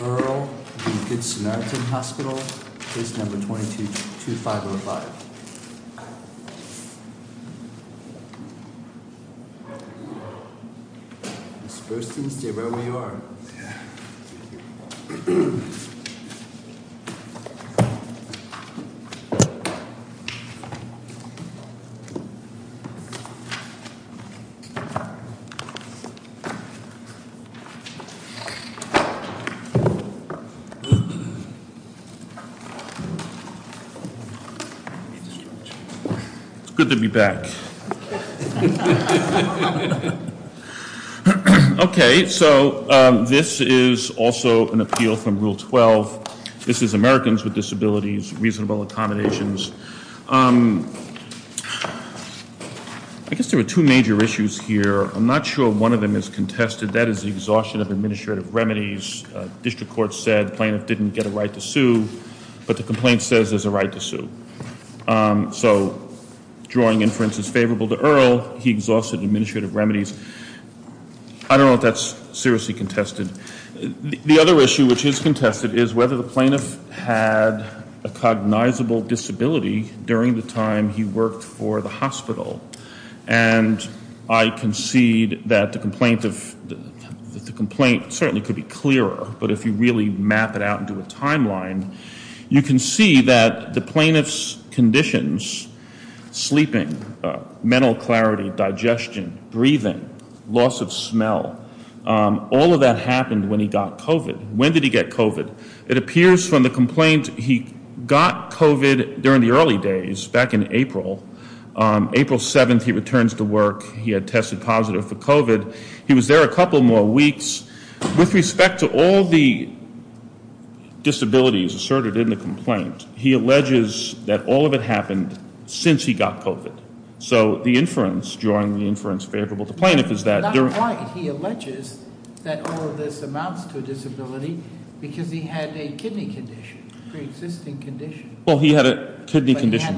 Earl v. Good Samaritan Hospital, case number 222505 It's good to be back. Okay, so this is also an appeal from Rule 12. This is Americans with Disabilities, Reasonable Accommodations. I guess there are two major issues here. I'm administrative remedies. District Court said the plaintiff didn't get a right to sue, but the complaint says there's a right to sue. So drawing inference is favorable to Earl. He exhausted administrative remedies. I don't know if that's seriously contested. The other issue which is contested is whether the plaintiff had a cognizable disability during the time he worked for the certainly could be clearer, but if you really map it out into a timeline, you can see that the plaintiff's conditions, sleeping, mental clarity, digestion, breathing, loss of smell, all of that happened when he got COVID. When did he get COVID? It appears from the complaint he got COVID during the early days back in April. April 7th, he returns to work. He had tested positive for weeks. With respect to all the disabilities asserted in the complaint, he alleges that all of it happened since he got COVID. So the inference, drawing the inference favorable to plaintiff is that he alleges that all of this amounts to a disability because he had a kidney condition, pre-existing condition. Well, he had a kidney condition.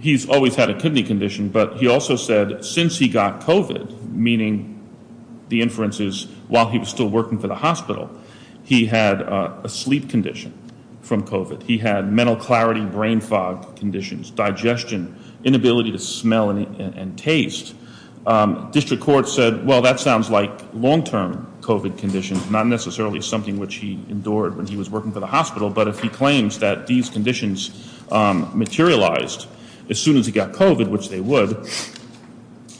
He's always had a kidney condition, but he also said that since he got COVID, meaning the inferences while he was still working for the hospital, he had a sleep condition from COVID. He had mental clarity, brain fog conditions, digestion, inability to smell and taste. District Court said, well, that sounds like long-term COVID conditions, not necessarily something which he endured when he was working for the hospital, but if he claims that these conditions materialized as soon as he got COVID, which they would,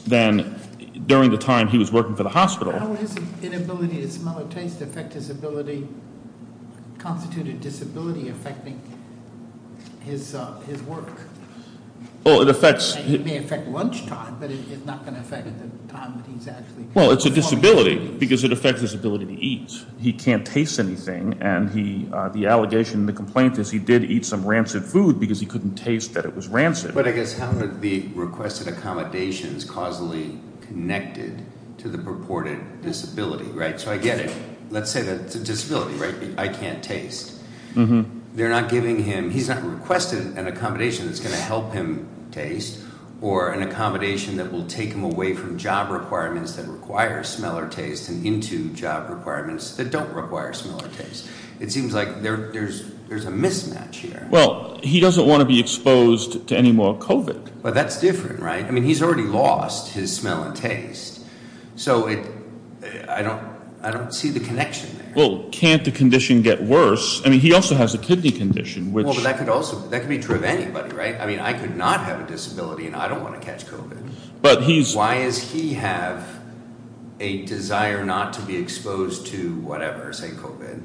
then during the time he was working for the hospital. How is his inability to smell or taste affect his ability, constituted disability affecting his work? Well, it affects... It may affect lunchtime, but it's not going to affect the time that he's actually... Well, it's a disability because it affects his ability to eat. He can't taste anything. And he, the couldn't taste that it was rancid. But I guess how did the requested accommodations causally connected to the purported disability, right? So I get it. Let's say that it's a disability, right? I can't taste. They're not giving him... He's not requested an accommodation that's going to help him taste or an accommodation that will take him away from job requirements that require smell or taste and into job requirements that don't require smell or taste. It seems like there's a mismatch here. Well, he doesn't want to be exposed to any more COVID. But that's different, right? I mean, he's already lost his smell and taste. So I don't see the connection there. Well, can't the condition get worse? I mean, he also has a kidney condition, which... Well, but that could also... That could be true of anybody, right? I mean, I could not have a disability and I don't want to catch COVID. Why does he have a desire not to be exposed to whatever, say COVID,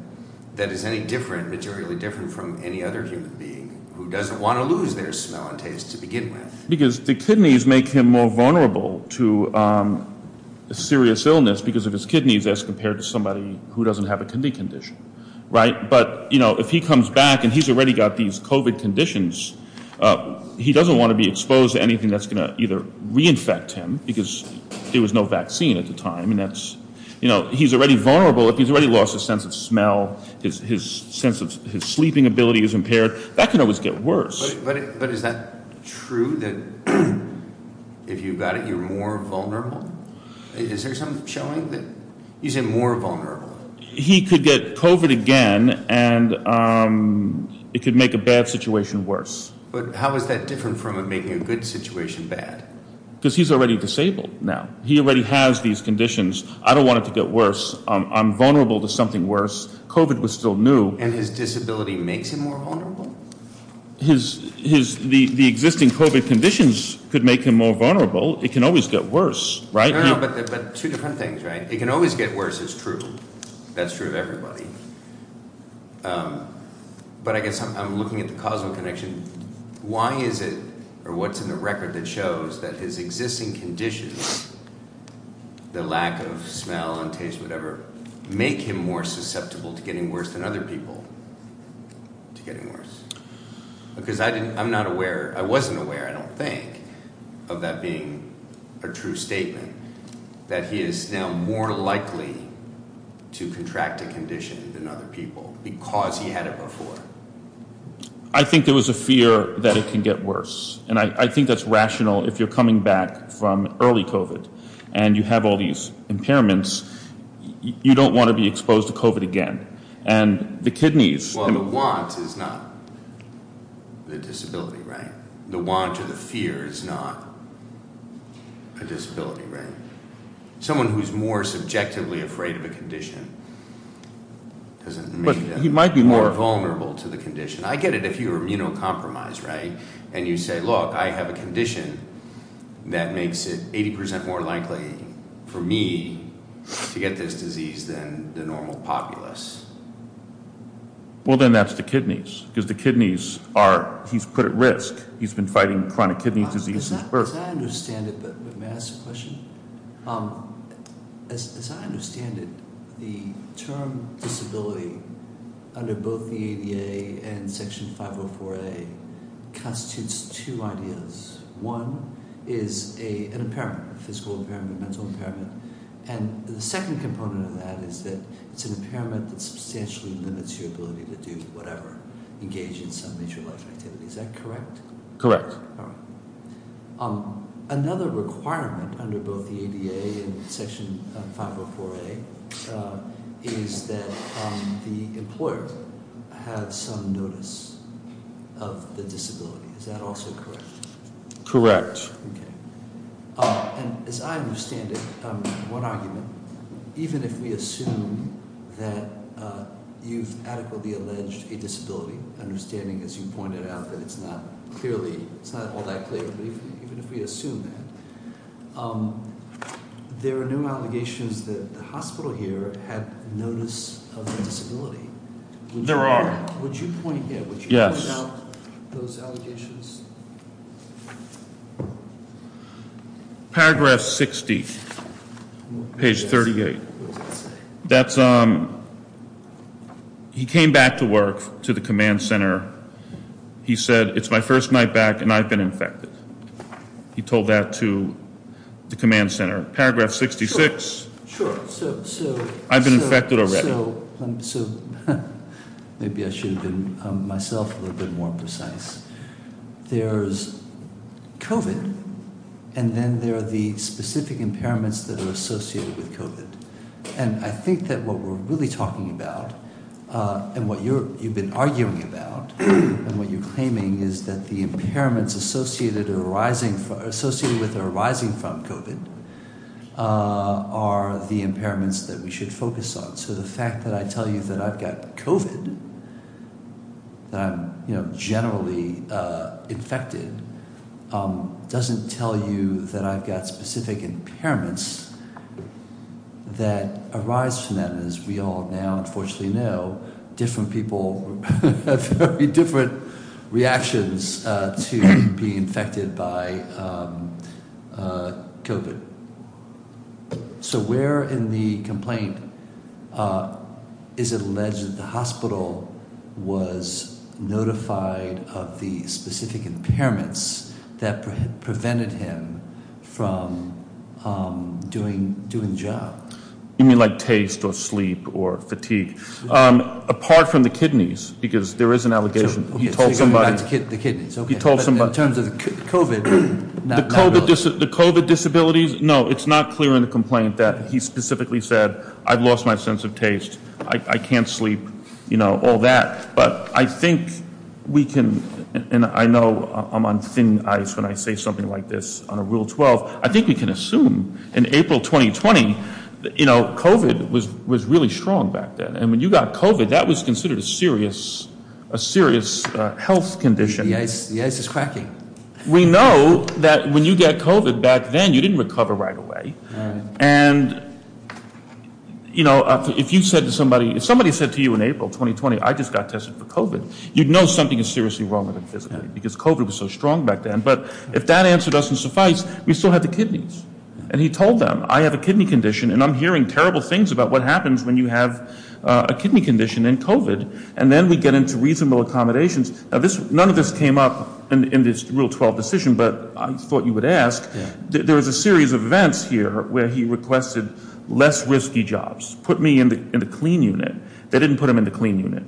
that is any different, materially different from any other human being who doesn't want to lose their smell and taste to begin with? Because the kidneys make him more vulnerable to serious illness because of his kidneys as compared to somebody who doesn't have a kidney condition, right? But if he comes back and he's already got these COVID conditions, he doesn't want to be exposed to anything that's going to either reinfect him because there was no vaccine at the time. And that's, you know, he's already vulnerable. If he's already lost his sense of smell, his sense of... His sleeping ability is impaired. That can always get worse. But is that true that if you've got it, you're more vulnerable? Is there some showing that he's more vulnerable? He could get COVID again and it could make a bad situation worse. But how is that different from making a good situation bad? Because he's already disabled now. He already has these conditions. I don't want it to get worse. I'm vulnerable to something worse. COVID was still new. And his disability makes him more vulnerable? The existing COVID conditions could make him more vulnerable. It can always get worse, right? No, no, but two different things, right? It can always get worse. It's true. That's true of everybody. But I guess I'm looking at the causal connection. Why is it or what's in the record that shows that his existing conditions, the lack of smell and taste, whatever, make him more susceptible to getting worse than other people to getting worse? Because I'm not aware. I wasn't aware, I don't think, of that being a true statement, that he is now more likely to contract a condition than other people because he had it before. I think there was a fear that it can get worse. And I think that's rational if you're coming back from early COVID and you have all these impairments. You don't want to be exposed to COVID again. And the kidneys. Well, the want is not the disability, right? The want or the fear is not a disability, right? Someone who's more subjectively afraid of a condition doesn't make them more vulnerable to the condition. I get it if you're immunocompromised, right? And you say, look, I have a condition that makes it 80% more likely for me to get this disease than the normal populace. Well, then that's the kidneys. Because the kidneys are, he's put at risk. He's been fighting chronic kidney disease since birth. As I understand it, but may I ask a question? As I understand it, the term disability under both the ADA and Section 504A constitutes two ideas. One is an impairment, a physical impairment, a mental impairment. And the second component of that is that it's an impairment that substantially limits your ability to do whatever, engage in some major life activity. Is that correct? Correct. Another requirement under both the ADA and Section 504A is that the employer has some notice of the disability. Is that also correct? Correct. Okay. And as I understand it, one argument, even if we assume that you've adequately alleged a disability, understanding as you pointed out that it's not clearly, it's not all that clear, but even if we assume that, there are new allegations that the hospital here had notice of the disability. There are. Would you point here? Yes. Would you point out those allegations? Paragraph 60, page 38. What does it say? That's, he came back to work to the command center. He said, it's my first night back and I've been infected. He told that to the command center. Paragraph 66. Sure. I've been infected already. So, maybe I should have been myself a little bit more precise. There's COVID and then there are the specific impairments that are associated with COVID. And I think that what we're really talking about and what you've been arguing about and what you're claiming is that the impairments associated or arising, associated with or arising from COVID are the impairments that we should focus on. So, the fact that I tell you that I've got COVID, that I'm generally infected, doesn't tell you that I've got specific impairments that arise from that. And as we all now unfortunately know, different people have very different reactions to being infected by COVID. So, where in the complaint is it alleged that the hospital was notified of the specific impairments that prevented him from doing the job? You mean like taste or sleep or fatigue? Apart from the kidneys, because there is an allegation. He told somebody. The kidneys, okay. He told somebody. In terms of COVID. The COVID disabilities? No, it's not clear in the complaint that he specifically said, I've lost my sense of taste. I can't sleep, all that. But I think we can, and I know I'm on thin ice when I say something like this on a Rule 12. I think we can assume in April 2020, COVID was really strong back then. And when you got COVID, that was considered a serious health condition. The ice is cracking. We know that when you get COVID back then, you didn't recover right away. And, you know, if you said to somebody, if somebody said to you in April 2020, I just got tested for COVID, you'd know something is seriously wrong with him physically. Because COVID was so strong back then. But if that answer doesn't suffice, we still have the kidneys. And he told them, I have a kidney condition, and I'm hearing terrible things about what happens when you have a kidney condition in COVID. And then we get into reasonable accommodations. None of this came up in this Rule 12 decision, but I thought you would ask. There was a series of events here where he requested less risky jobs. Put me in the clean unit. They didn't put him in the clean unit.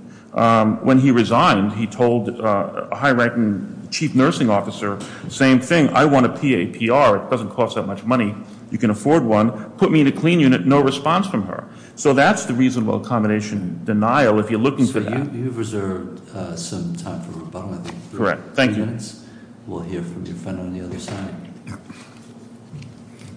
When he resigned, he told a high ranking chief nursing officer, same thing. I want a PAPR. It doesn't cost that much money. You can afford one. Put me in a clean unit. No response from her. So that's the reasonable accommodation denial, if you're looking for that. You've reserved some time for rebuttal, I think. Correct. Thank you. We'll hear from your friend on the other side.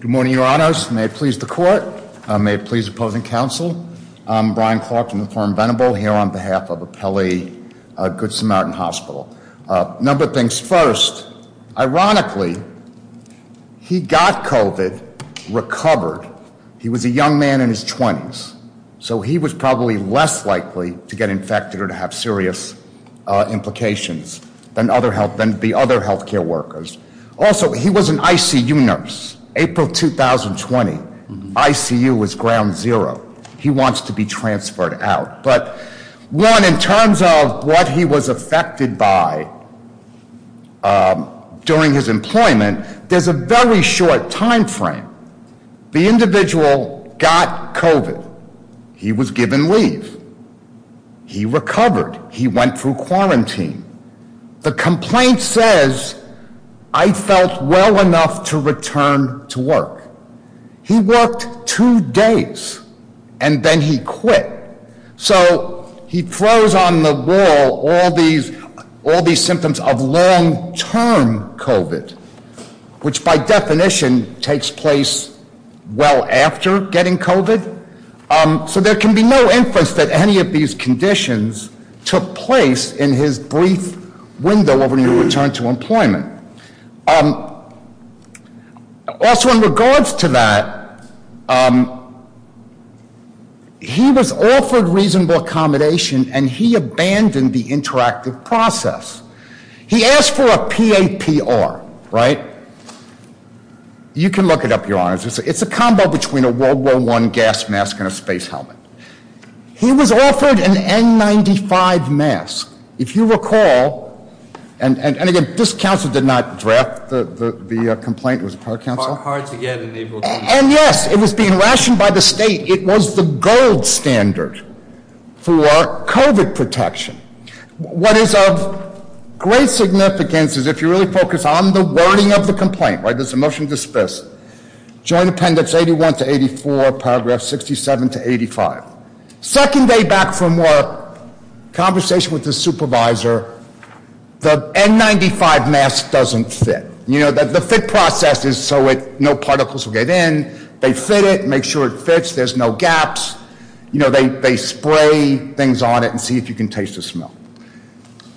Good morning, your honors. May it please the court. May it please opposing counsel. I'm Brian Clark from the firm Venable here on behalf of Apelli Good Samaritan Hospital. A number of things. First, ironically, he got COVID, recovered. He was a young man in his 20s. So he was probably less likely to get infected or to have serious implications than the other health care workers. Also, he was an ICU nurse. April 2020, ICU was ground zero. He wants to be transferred out. But one, in terms of what he was affected by during his employment, there's a very short time frame. The individual got COVID. He was given leave. He recovered. He went through quarantine. The complaint says, I felt well enough to return to work. He worked two days, and then he quit. So he throws on the wall all these symptoms of long-term COVID, which, by definition, takes place well after getting COVID. So there can be no inference that any of these conditions took place in his brief window of a new return to employment. Also, in regards to that, he was offered reasonable accommodation, and he abandoned the interactive process. He asked for a PAPR, right? You can look it up, Your Honors. It's a combo between a World War I gas mask and a space helmet. He was offered an N95 mask. If you recall, and again, this counsel did not draft the complaint. It was a prior counsel? Hard to get. And yes, it was being rationed by the state. It was the gold standard for COVID protection. What is of great significance is if you really focus on the wording of the complaint, right? There's a motion to dismiss. Joint Appendix 81 to 84, Paragraph 67 to 85. Second day back from work, conversation with the supervisor. The N95 mask doesn't fit. The fit process is so no particles will get in. They fit it, make sure it fits, there's no gaps. They spray things on it and see if you can taste the smell.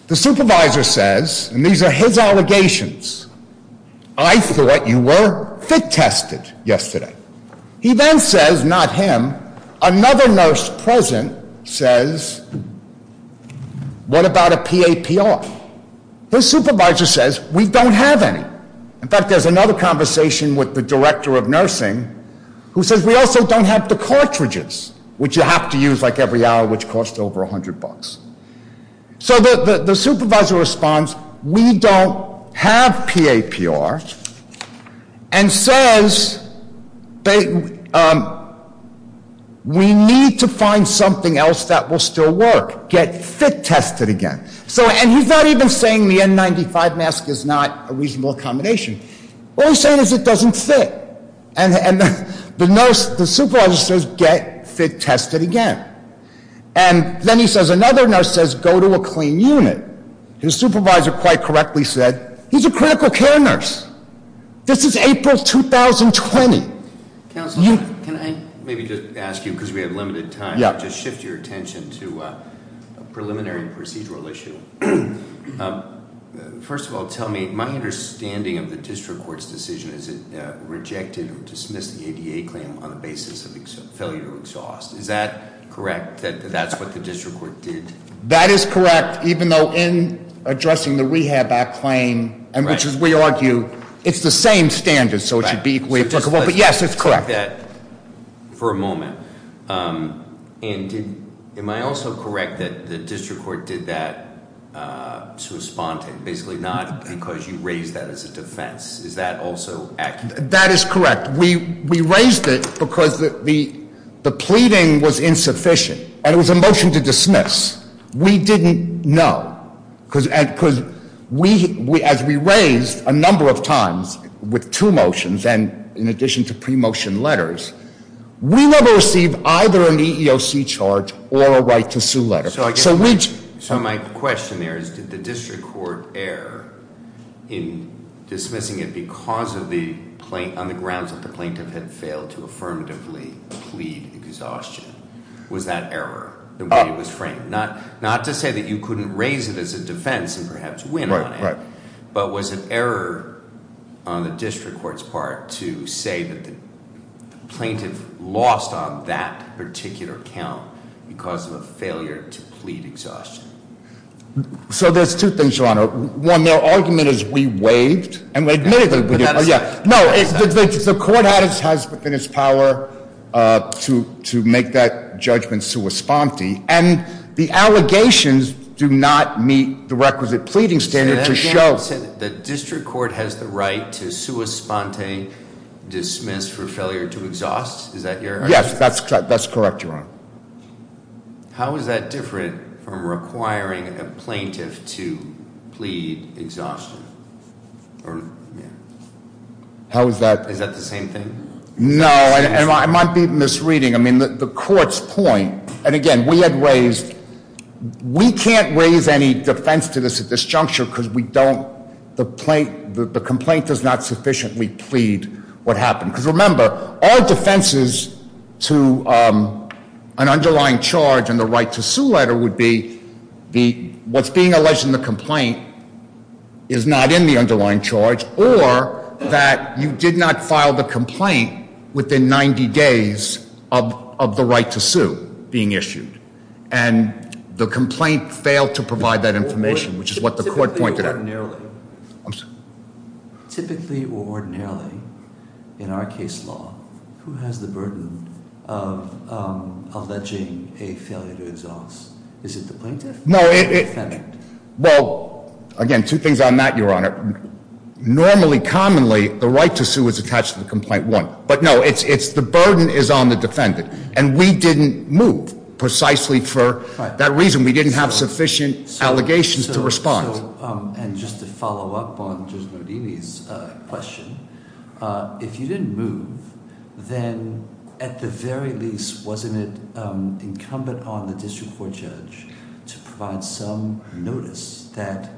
The supervisor says, and these are his allegations, I thought you were fit tested yesterday. He then says, not him, another nurse present says, what about a PAPR? His supervisor says, we don't have any. In fact, there's another conversation with the director of nursing who says we also don't have the cartridges, which you have to use like every hour, which cost over 100 bucks. So the supervisor responds, we don't have PAPR. And says, we need to find something else that will still work. Get fit tested again. And he's not even saying the N95 mask is not a reasonable accommodation. All he's saying is it doesn't fit. And the supervisor says, get fit tested again. And then he says, another nurse says, go to a clean unit. His supervisor quite correctly said, he's a critical care nurse. This is April 2020. Councilman, can I maybe just ask you, because we have limited time. Yeah. Just shift your attention to a preliminary procedural issue. First of all, tell me, my understanding of the district court's decision is it rejected or dismissed the ADA claim on the basis of failure to exhaust. Is that correct, that that's what the district court did? That is correct, even though in addressing the rehab act claim, which as we argue, it's the same standard, so it should be equally applicable. But yes, it's correct. Let's take that for a moment. And am I also correct that the district court did that to respond to it? Basically not because you raised that as a defense. Is that also accurate? That is correct. We raised it because the pleading was insufficient. And it was a motion to dismiss. We didn't know. Because as we raised a number of times with two motions and in addition to pre-motion letters, we never received either an EEOC charge or a right to sue letter. So my question there is, did the district court err in dismissing it because of the, on the grounds that the plaintiff had failed to affirmatively plead exhaustion? Was that error, the way it was framed? Not to say that you couldn't raise it as a defense and perhaps win on it, but was it error on the district court's part to say that the plaintiff lost on that particular count because of a failure to plead exhaustion? So there's two things, Your Honor. One, their argument is we waived. And we admitted that we did. But that is not- No, the court has within its power to make that judgment sua sponte. And the allegations do not meet the requisite pleading standard to show- The district court has the right to sua sponte dismiss for failure to exhaust? Is that your- Yes, that's correct, Your Honor. How is that different from requiring a plaintiff to plead exhaustion? How is that- Is that the same thing? No, and I might be misreading. I mean, the court's point, and again, we had raised, we can't raise any defense to this at this juncture because we don't, the complaint does not sufficiently plead what happened. Because remember, our defenses to an underlying charge in the right to sue letter would be what's being alleged in the complaint is not in the underlying charge or that you did not file the complaint within 90 days of the right to sue being issued. And the complaint failed to provide that information, which is what the court pointed at. Typically or ordinarily, in our case law, who has the burden of alleging a failure to exhaust? Is it the plaintiff or the defendant? Well, again, two things on that, Your Honor. Normally, commonly, the right to sue is attached to the complaint one. But no, it's the burden is on the defendant. And we didn't move precisely for that reason. We didn't have sufficient allegations to respond. And just to follow up on Judge Nardini's question, if you didn't move, then at the very least, wasn't it incumbent on the district court judge to provide some notice that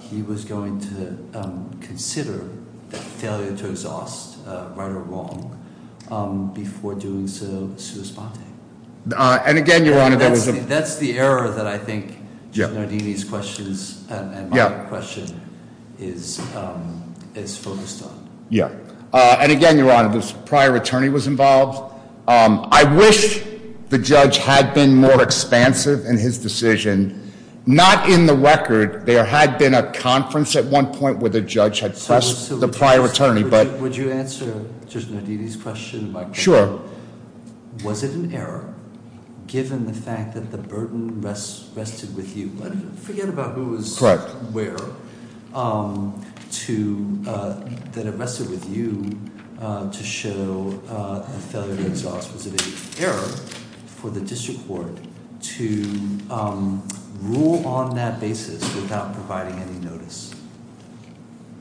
he was going to consider the failure to exhaust, right or wrong, before doing so, sui sponte? And again, Your Honor, there was a- And my question is focused on- Yeah. And again, Your Honor, this prior attorney was involved. I wish the judge had been more expansive in his decision. Not in the record. There had been a conference at one point where the judge had pressed the prior attorney, but- Would you answer Judge Nardini's question? Sure. Was it an error, given the fact that the burden rested with you? Forget about who was- Correct. Where, that it rested with you to show the failure to exhaust. Was it an error for the district court to rule on that basis without providing any notice?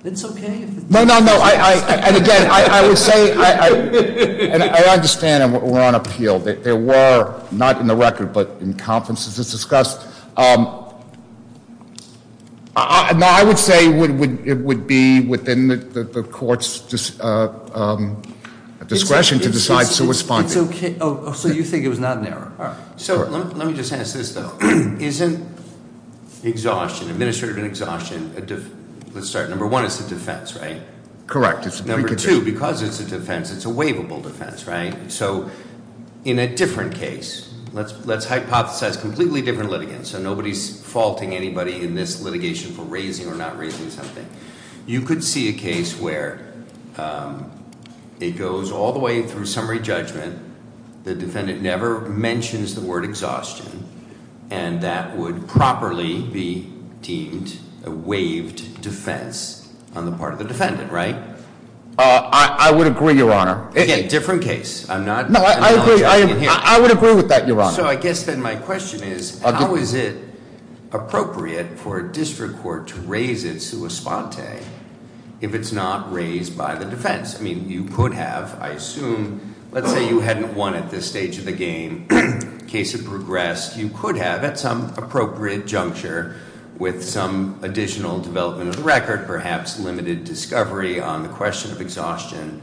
It's okay if- No, no, no. And again, I would say, and I understand we're on appeal. There were, not in the record, but in conferences, it's discussed. No, I would say it would be within the court's discretion to decide sui sponte. It's okay. Oh, so you think it was not an error. All right. So let me just ask this, though. Isn't exhaustion, administrative exhaustion, let's start, number one, it's a defense, right? Correct. It's a precondition. Number two, because it's a defense, it's a waivable defense, right? So in a different case, let's hypothesize completely different litigants. So nobody's faulting anybody in this litigation for raising or not raising something. You could see a case where it goes all the way through summary judgment. The defendant never mentions the word exhaustion. And that would properly be deemed a waived defense on the part of the defendant, right? I would agree, Your Honor. Again, different case. I'm not acknowledging it here. No, I agree. I would agree with that, Your Honor. So I guess then my question is, how is it appropriate for a district court to raise its sui sponte if it's not raised by the defense? I mean, you could have, I assume, let's say you hadn't won at this stage of the game. Case had progressed. You could have, at some appropriate juncture, with some additional development of the record, perhaps limited discovery on the question of exhaustion,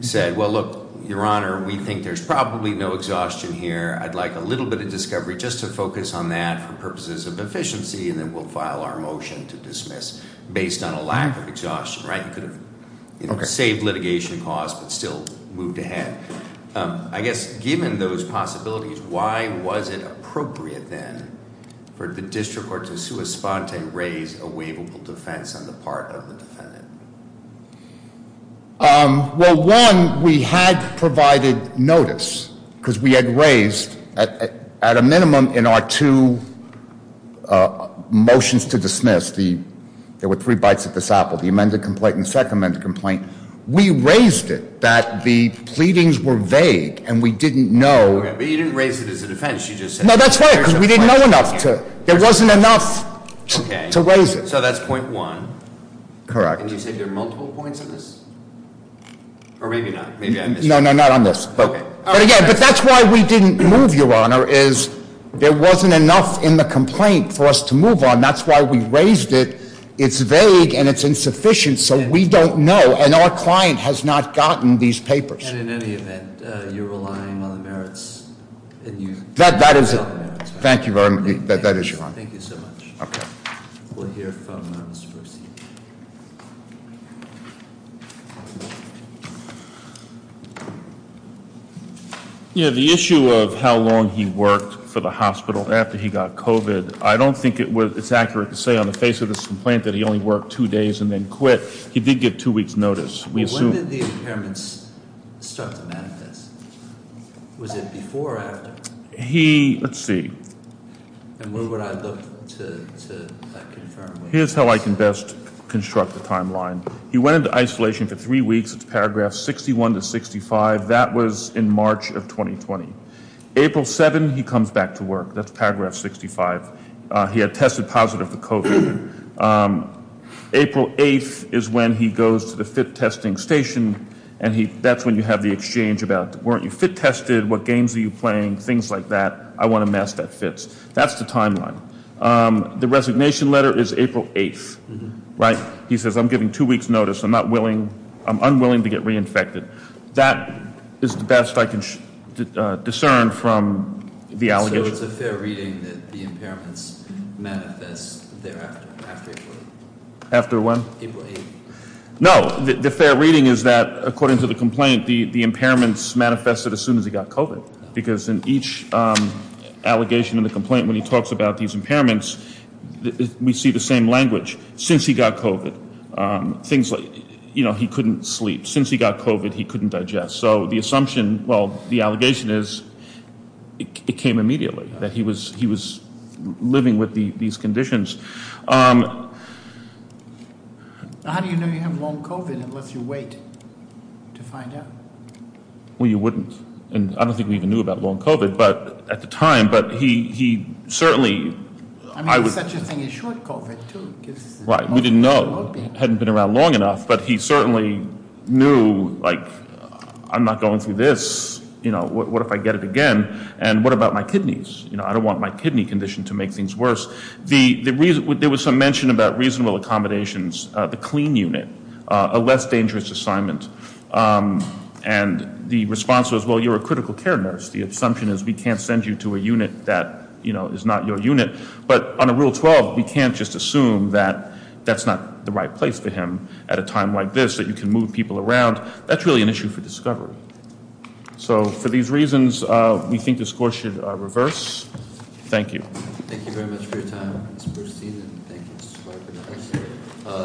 said, well, look, Your Honor, we think there's probably no exhaustion here. I'd like a little bit of discovery just to focus on that for purposes of efficiency. And then we'll file our motion to dismiss based on a lack of exhaustion, right? You could have saved litigation costs but still moved ahead. I guess given those possibilities, why was it appropriate then for the district court to sui sponte raise a waivable defense on the part of the defendant? Well, one, we had provided notice because we had raised, at a minimum, in our two motions to dismiss, there were three bites at the sapple, the amended complaint and the second amended complaint. We raised it that the pleadings were vague and we didn't know- Okay, but you didn't raise it as a defense, you just said- No, that's right, because we didn't know enough to, there wasn't enough to raise it. Okay, so that's point one. Correct. And you said there are multiple points on this? Or maybe not, maybe I missed something. No, no, not on this. But again, but that's why we didn't move, Your Honor, is there wasn't enough in the complaint for us to move on. And that's why we raised it. It's vague and it's insufficient, so we don't know. And our client has not gotten these papers. And in any event, you're relying on the merits and you- That is, thank you very much, that is your honor. Thank you so much. Okay. We'll hear from Mr. Bercy. Thank you. Yeah, the issue of how long he worked for the hospital after he got COVID, I don't think it's accurate to say on the face of this complaint that he only worked two days and then quit. He did get two weeks notice. When did the impairments start to manifest? Was it before or after? He, let's see. And when would I look to confirm? Here's how I can best construct the timeline. He went into isolation for three weeks. It's paragraph 61 to 65. That was in March of 2020. April 7, he comes back to work. That's paragraph 65. He had tested positive for COVID. April 8 is when he goes to the fit testing station, and that's when you have the exchange about, weren't you fit tested? What games are you playing? Things like that. I want a mask that fits. That's the timeline. The resignation letter is April 8th, right? He says, I'm giving two weeks notice. I'm unwilling to get reinfected. That is the best I can discern from the allegations. So it's a fair reading that the impairments manifest thereafter, after April 8th? After when? April 8th. No, the fair reading is that, according to the complaint, the impairments manifested as soon as he got COVID. Because in each allegation in the complaint, when he talks about these impairments, we see the same language. Since he got COVID, things like, you know, he couldn't sleep. Since he got COVID, he couldn't digest. So the assumption, well, the allegation is it came immediately, that he was living with these conditions. How do you know you have long COVID unless you wait to find out? Well, you wouldn't. And I don't think we even knew about long COVID at the time. But he certainly. I mean, such a thing as short COVID, too. Right, we didn't know. Hadn't been around long enough. But he certainly knew, like, I'm not going through this. You know, what if I get it again? And what about my kidneys? You know, I don't want my kidney condition to make things worse. There was some mention about reasonable accommodations, the clean unit, a less dangerous assignment. And the response was, well, you're a critical care nurse. The assumption is we can't send you to a unit that, you know, is not your unit. But on Rule 12, we can't just assume that that's not the right place for him at a time like this, that you can move people around. That's really an issue for discovery. So for these reasons, we think the score should reverse. Thank you. Thank you very much for your time. Let's proceed.